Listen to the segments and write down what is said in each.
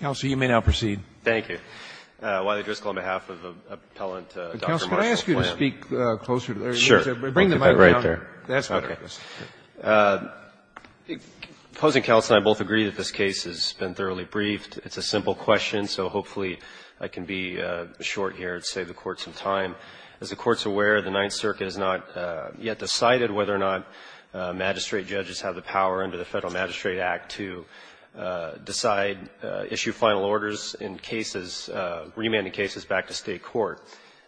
Counsel, you may now proceed. Thank you. Wiley-Driscoll, on behalf of Appellant Dr. Marshall Flam. Counsel, could I ask you to speak closer to the podium? Sure. Bring the microphone down. Okay. That's better. Okay. Opposing counsel and I both agree that this case has been thoroughly briefed. It's a simple question, so hopefully I can be short here and save the Court some As the Court's aware, the Ninth Circuit has not yet decided whether or not magistrate to decide, issue final orders in cases, remanding cases back to State court.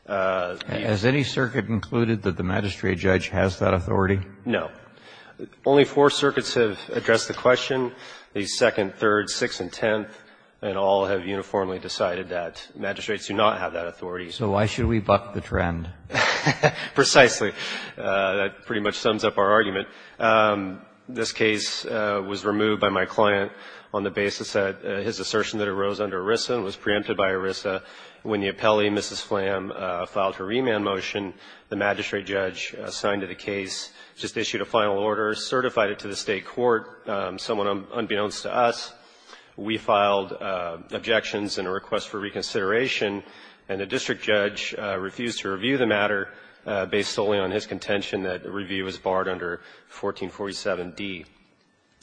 Has any circuit included that the magistrate judge has that authority? No. Only four circuits have addressed the question. The Second, Third, Sixth, and Tenth, and all have uniformly decided that magistrates do not have that authority. So why should we buck the trend? Precisely. That pretty much sums up our argument. This case was removed by my client on the basis that his assertion that it arose under ERISA and was preempted by ERISA. When the appellee, Mrs. Flam, filed her remand motion, the magistrate judge signed to the case, just issued a final order, certified it to the State court, someone unbeknownst to us. We filed objections and a request for reconsideration, and the district judge refused to review the matter based solely on his contention that the review was barred under 1447d.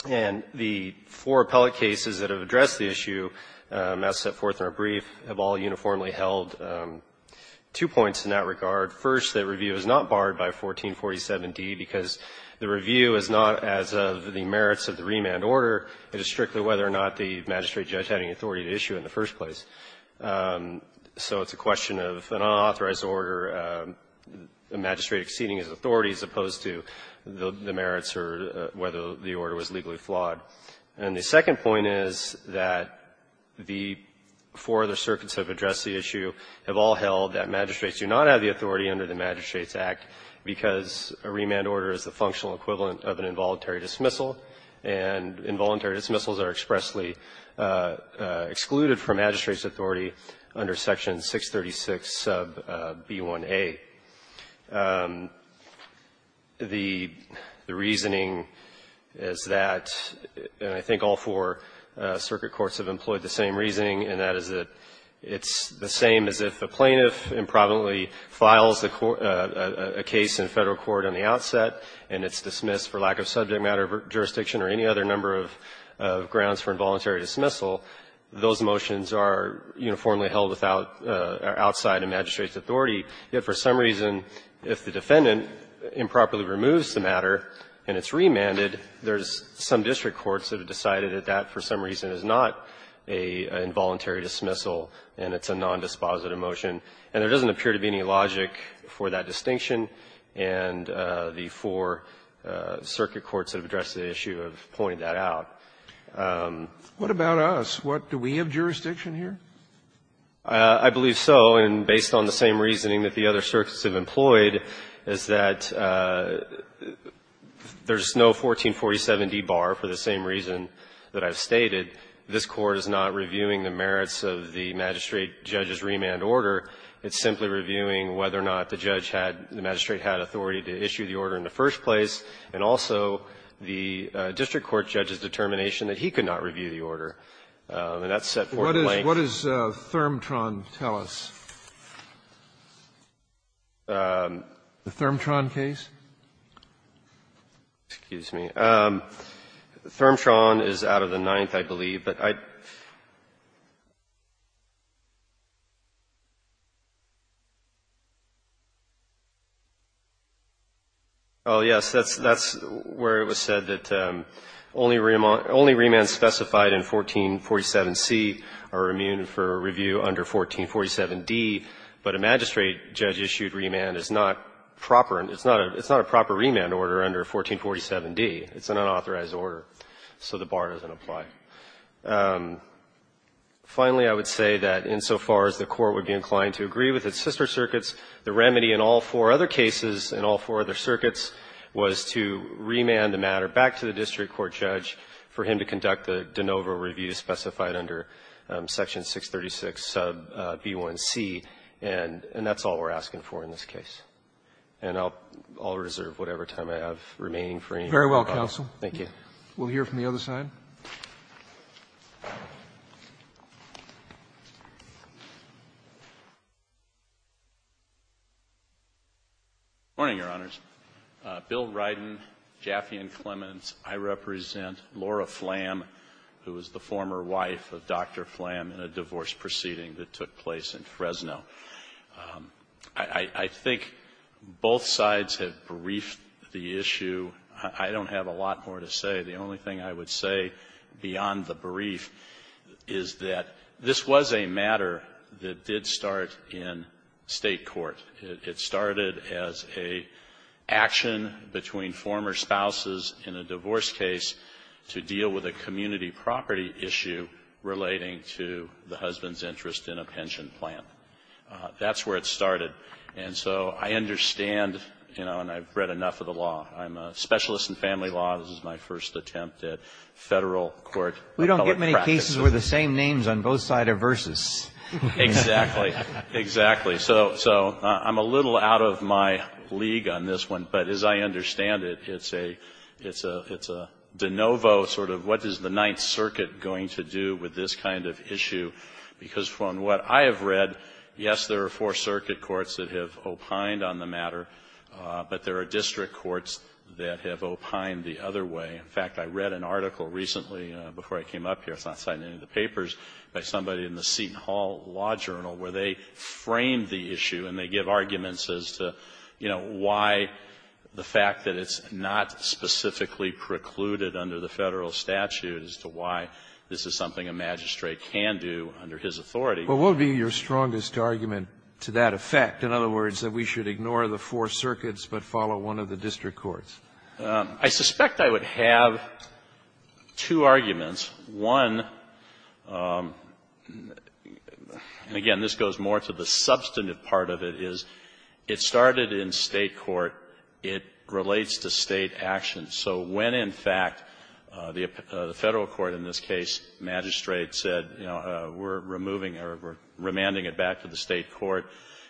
And the four appellate cases that have addressed the issue, as set forth in our brief, have all uniformly held two points in that regard. First, that review is not barred by 1447d because the review is not as of the merits of the remand order, it is strictly whether or not the magistrate judge had any authority to issue it in the first place. So it's a question of an unauthorized order, a magistrate exceeding his authority as opposed to the merits or whether the order was legally flawed. And the second point is that the four other circuits that have addressed the issue have all held that magistrates do not have the authority under the Magistrates Act because a remand order is the functional equivalent of an involuntary The reasoning is that, and I think all four circuit courts have employed the same reasoning, and that is that it's the same as if a plaintiff improvidently files a case in Federal court on the outset and it's dismissed for lack of subject matter, jurisdiction, or any other number of reasons. grounds for involuntary dismissal, those motions are uniformly held without or outside a magistrate's authority, yet for some reason if the defendant improperly removes the matter and it's remanded, there's some district courts that have decided that that for some reason is not an involuntary dismissal and it's a nondispositive motion, and there doesn't appear to be any logic for that distinction, and the four circuit courts that have addressed the issue have pointed that out. Scalia, what about us? Do we have jurisdiction here? I believe so, and based on the same reasoning that the other circuits have employed, is that there's no 1447d bar for the same reason that I've stated. This Court is not reviewing the merits of the magistrate judge's remand order. It's simply reviewing whether or not the judge had, the magistrate had authority to issue the order in the first place, and also the district court judge's determination that he could not review the order. And that's set forth in length. What does Thermtron tell us? The Thermtron case? Excuse me. Thermtron is out of the ninth, I believe, but I don't know. Oh, yes, that's where it was said that only remand specified in 1447c are immune for review under 1447d, but a magistrate judge issued remand is not proper. It's not a proper remand order under 1447d. It's an unauthorized order, so the bar doesn't apply. Finally, I would say that insofar as the Court would be inclined to agree with its sister circuits, the remedy in all four other cases in all four other circuits was to remand the matter back to the district court judge for him to conduct the de novo review specified under Section 636 sub b1c, and that's all we're asking for in this case. And I'll reserve whatever time I have remaining for any further comment. Roberts. Very well, counsel. Thank you. We'll hear from the other side. Good morning, Your Honors. Bill Ryden, Jaffe and Clemens. I represent Laura Flam, who was the former wife of Dr. Flam in a divorce proceeding that took place in Fresno. I think both sides have briefed the issue. I don't have a lot more to say. The only thing I would say beyond the brief is that this was a matter that did start in State court. It started as an action between former spouses in a divorce case to deal with a community property issue relating to the husband's interest in a pension plan. That's where it started. And so I understand, you know, and I've read enough of the law. I'm a specialist in family law. This is my first attempt at Federal court. We don't get many cases where the same names on both sides are versus. Exactly. Exactly. So I'm a little out of my league on this one, but as I understand it, it's a de novo sort of what is the Ninth Circuit going to do with this kind of issue, because from what I have read, yes, there are Fourth Circuit courts that have opined on the matter, but there are district courts that have opined the other way. In fact, I read an article recently before I came up here, it's not cited in any of the papers, by somebody in the Seton Hall Law Journal where they framed the issue and they give arguments as to, you know, why the fact that it's not specifically precluded under the Federal statute as to why this is something a magistrate can do under his authority. But what would be your strongest argument to that effect? In other words, that we should ignore the Four Circuits but follow one of the district courts? I suspect I would have two arguments. One, and again, this goes more to the substantive part of it, is it started in State court, it relates to State action. So when, in fact, the Federal court in this case, magistrate said, you know, we're removing or we're remanding it back to the State court,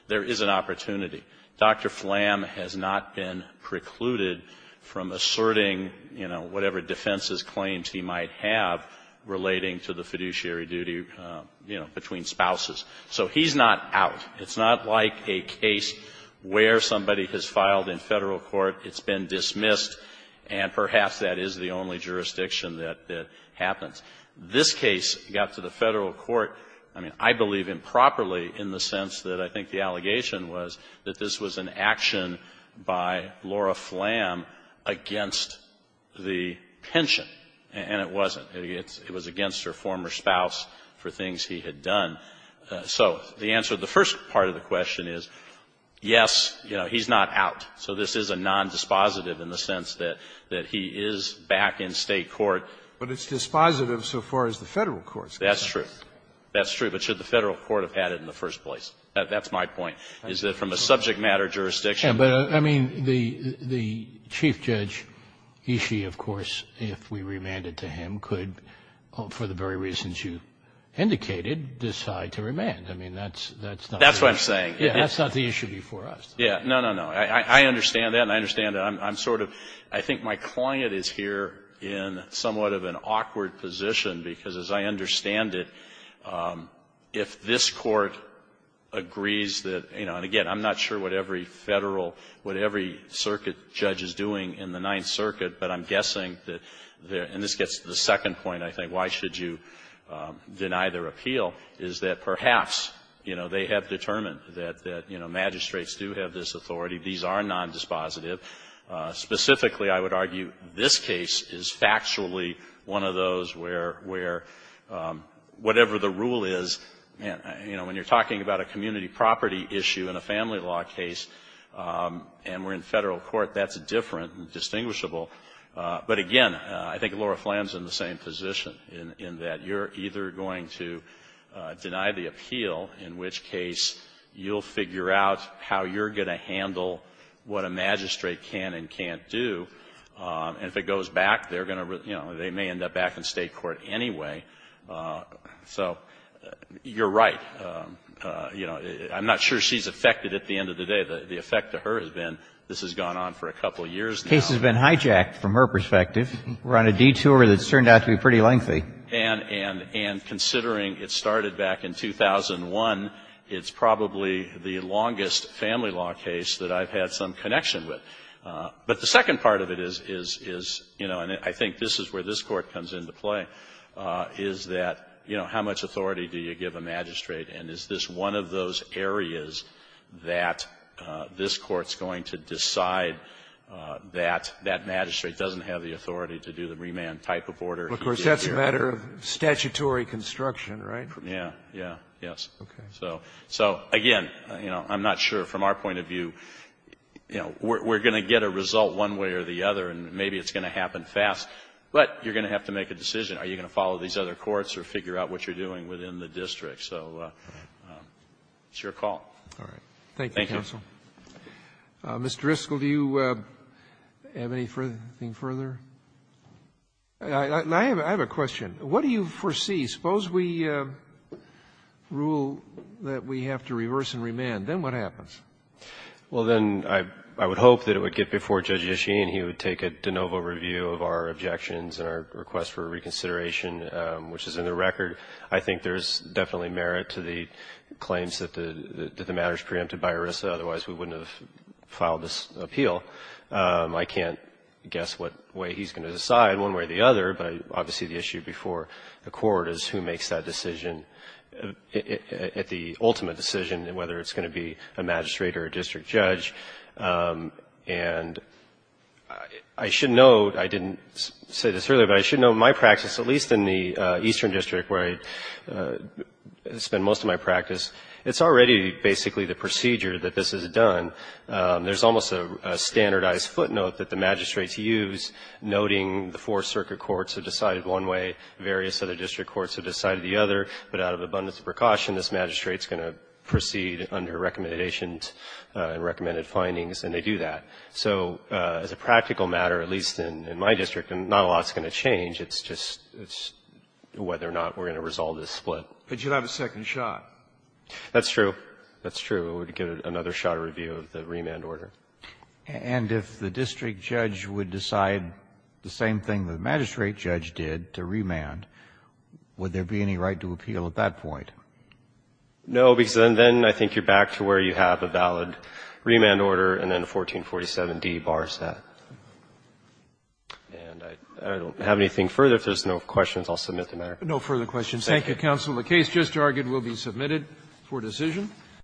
there is an opportunity. Dr. Flam has not been precluded from asserting, you know, whatever defenses claims he might have relating to the fiduciary duty, you know, between spouses. So he's not out. It's not like a case where somebody has filed in Federal court, it's been dismissed, and perhaps that is the only jurisdiction that happens. This case got to the Federal court, I mean, I believe improperly in the sense that I think the allegation was that this was an action by Laura Flam against the pension, and it wasn't. It was against her former spouse for things he had done. So the answer to the first part of the question is, yes, you know, he's not out. So this is a nondispositive in the sense that he is back in State court. But it's dispositive so far as the Federal court's concerned. That's true. That's true. But should the Federal court have had it in the first place? That's my point, is that from a subject matter jurisdiction. But, I mean, the Chief Judge Ishii, of course, if we remanded to him, could, for the very reasons you indicated, decide to remand. I mean, that's not the issue. That's what I'm saying. Yeah, that's not the issue before us. Yeah. No, no, no. I understand that, and I understand that. I'm sort of, I think my client is here in somewhat of an awkward position, because as I understand it, if this Court agrees that, you know, and again, I'm not sure what every Federal, what every circuit judge is doing in the Ninth Circuit, but I'm guessing that, and this gets to the second point, I think, why should you deny their appeal, is that perhaps, you know, they have determined that, you know, magistrates do have this authority. These are nondispositive. Specifically, I would argue this case is factually one of those where, where, whatever the rule is, you know, when you're talking about a community property issue in a family law case, and we're in Federal court, that's different and distinguishable. But again, I think Laura Flanagan is in the same position, in that you're either going to deny the appeal, in which case you'll figure out how you're going to handle what a magistrate can and can't do, and if it goes back, they're going to, you know, they may end up back in State court anyway. So you're right. You know, I'm not sure she's affected at the end of the day. The effect to her has been, this has gone on for a couple of years now. The case has been hijacked from her perspective. We're on a detour that's turned out to be pretty lengthy. And considering it started back in 2001, it's probably the longest family law case that I've had some connection with. But the second part of it is, is, is, you know, and I think this is where this Court comes into play, is that, you know, how much authority do you give a magistrate, and is this one of those areas that this Court's going to decide that that magistrate doesn't have the authority to do the remand type of order? Of course, that's a matter of statutory construction, right? Yeah. Yeah. Yes. Okay. So, so, again, you know, I'm not sure from our point of view, you know, we're going to get a result one way or the other, and maybe it's going to happen fast, but you're going to have to make a decision. Are you going to follow these other courts or figure out what you're doing within the district? So it's your call. All right. Thank you, counsel. Thank you. Mr. Driscoll, do you have anything further? I have a question. What do you foresee? Suppose we rule that we have to reverse and remand. Then what happens? Well, then I would hope that it would get before Judge Yashin, he would take a de novo review of our objections and our request for reconsideration, which is in the record. I think there's definitely merit to the claims that the matter is preempted by ERISA. Otherwise, we wouldn't have filed this appeal. I can't guess what way he's going to decide, one way or the other, but obviously the issue before the court is who makes that decision, the ultimate decision, whether it's going to be a magistrate or a district judge. And I should note, I didn't say this earlier, but I should note my practice, at least in the Eastern District, where I spend most of my practice, it's already basically the procedure that this is done. There's almost a standardized footnote that the magistrates use noting the four circuit courts have decided one way, various other district courts have decided the other, but out of abundance of precaution, this magistrate is going to proceed under recommendations and recommended findings, and they do that. So as a practical matter, at least in my district, not a lot is going to change. It's just whether or not we're going to resolve this split. But you'll have a second shot. That's true. That's true. I would give it another shot of review of the remand order. And if the district judge would decide the same thing the magistrate judge did to remand, would there be any right to appeal at that point? No, because then I think you're back to where you have a valid remand order, and then 1447d bars that. And I don't have anything further. If there's no questions, I'll submit the matter. No further questions. Thank you. Thank you, counsel. The case just argued will be submitted for decision.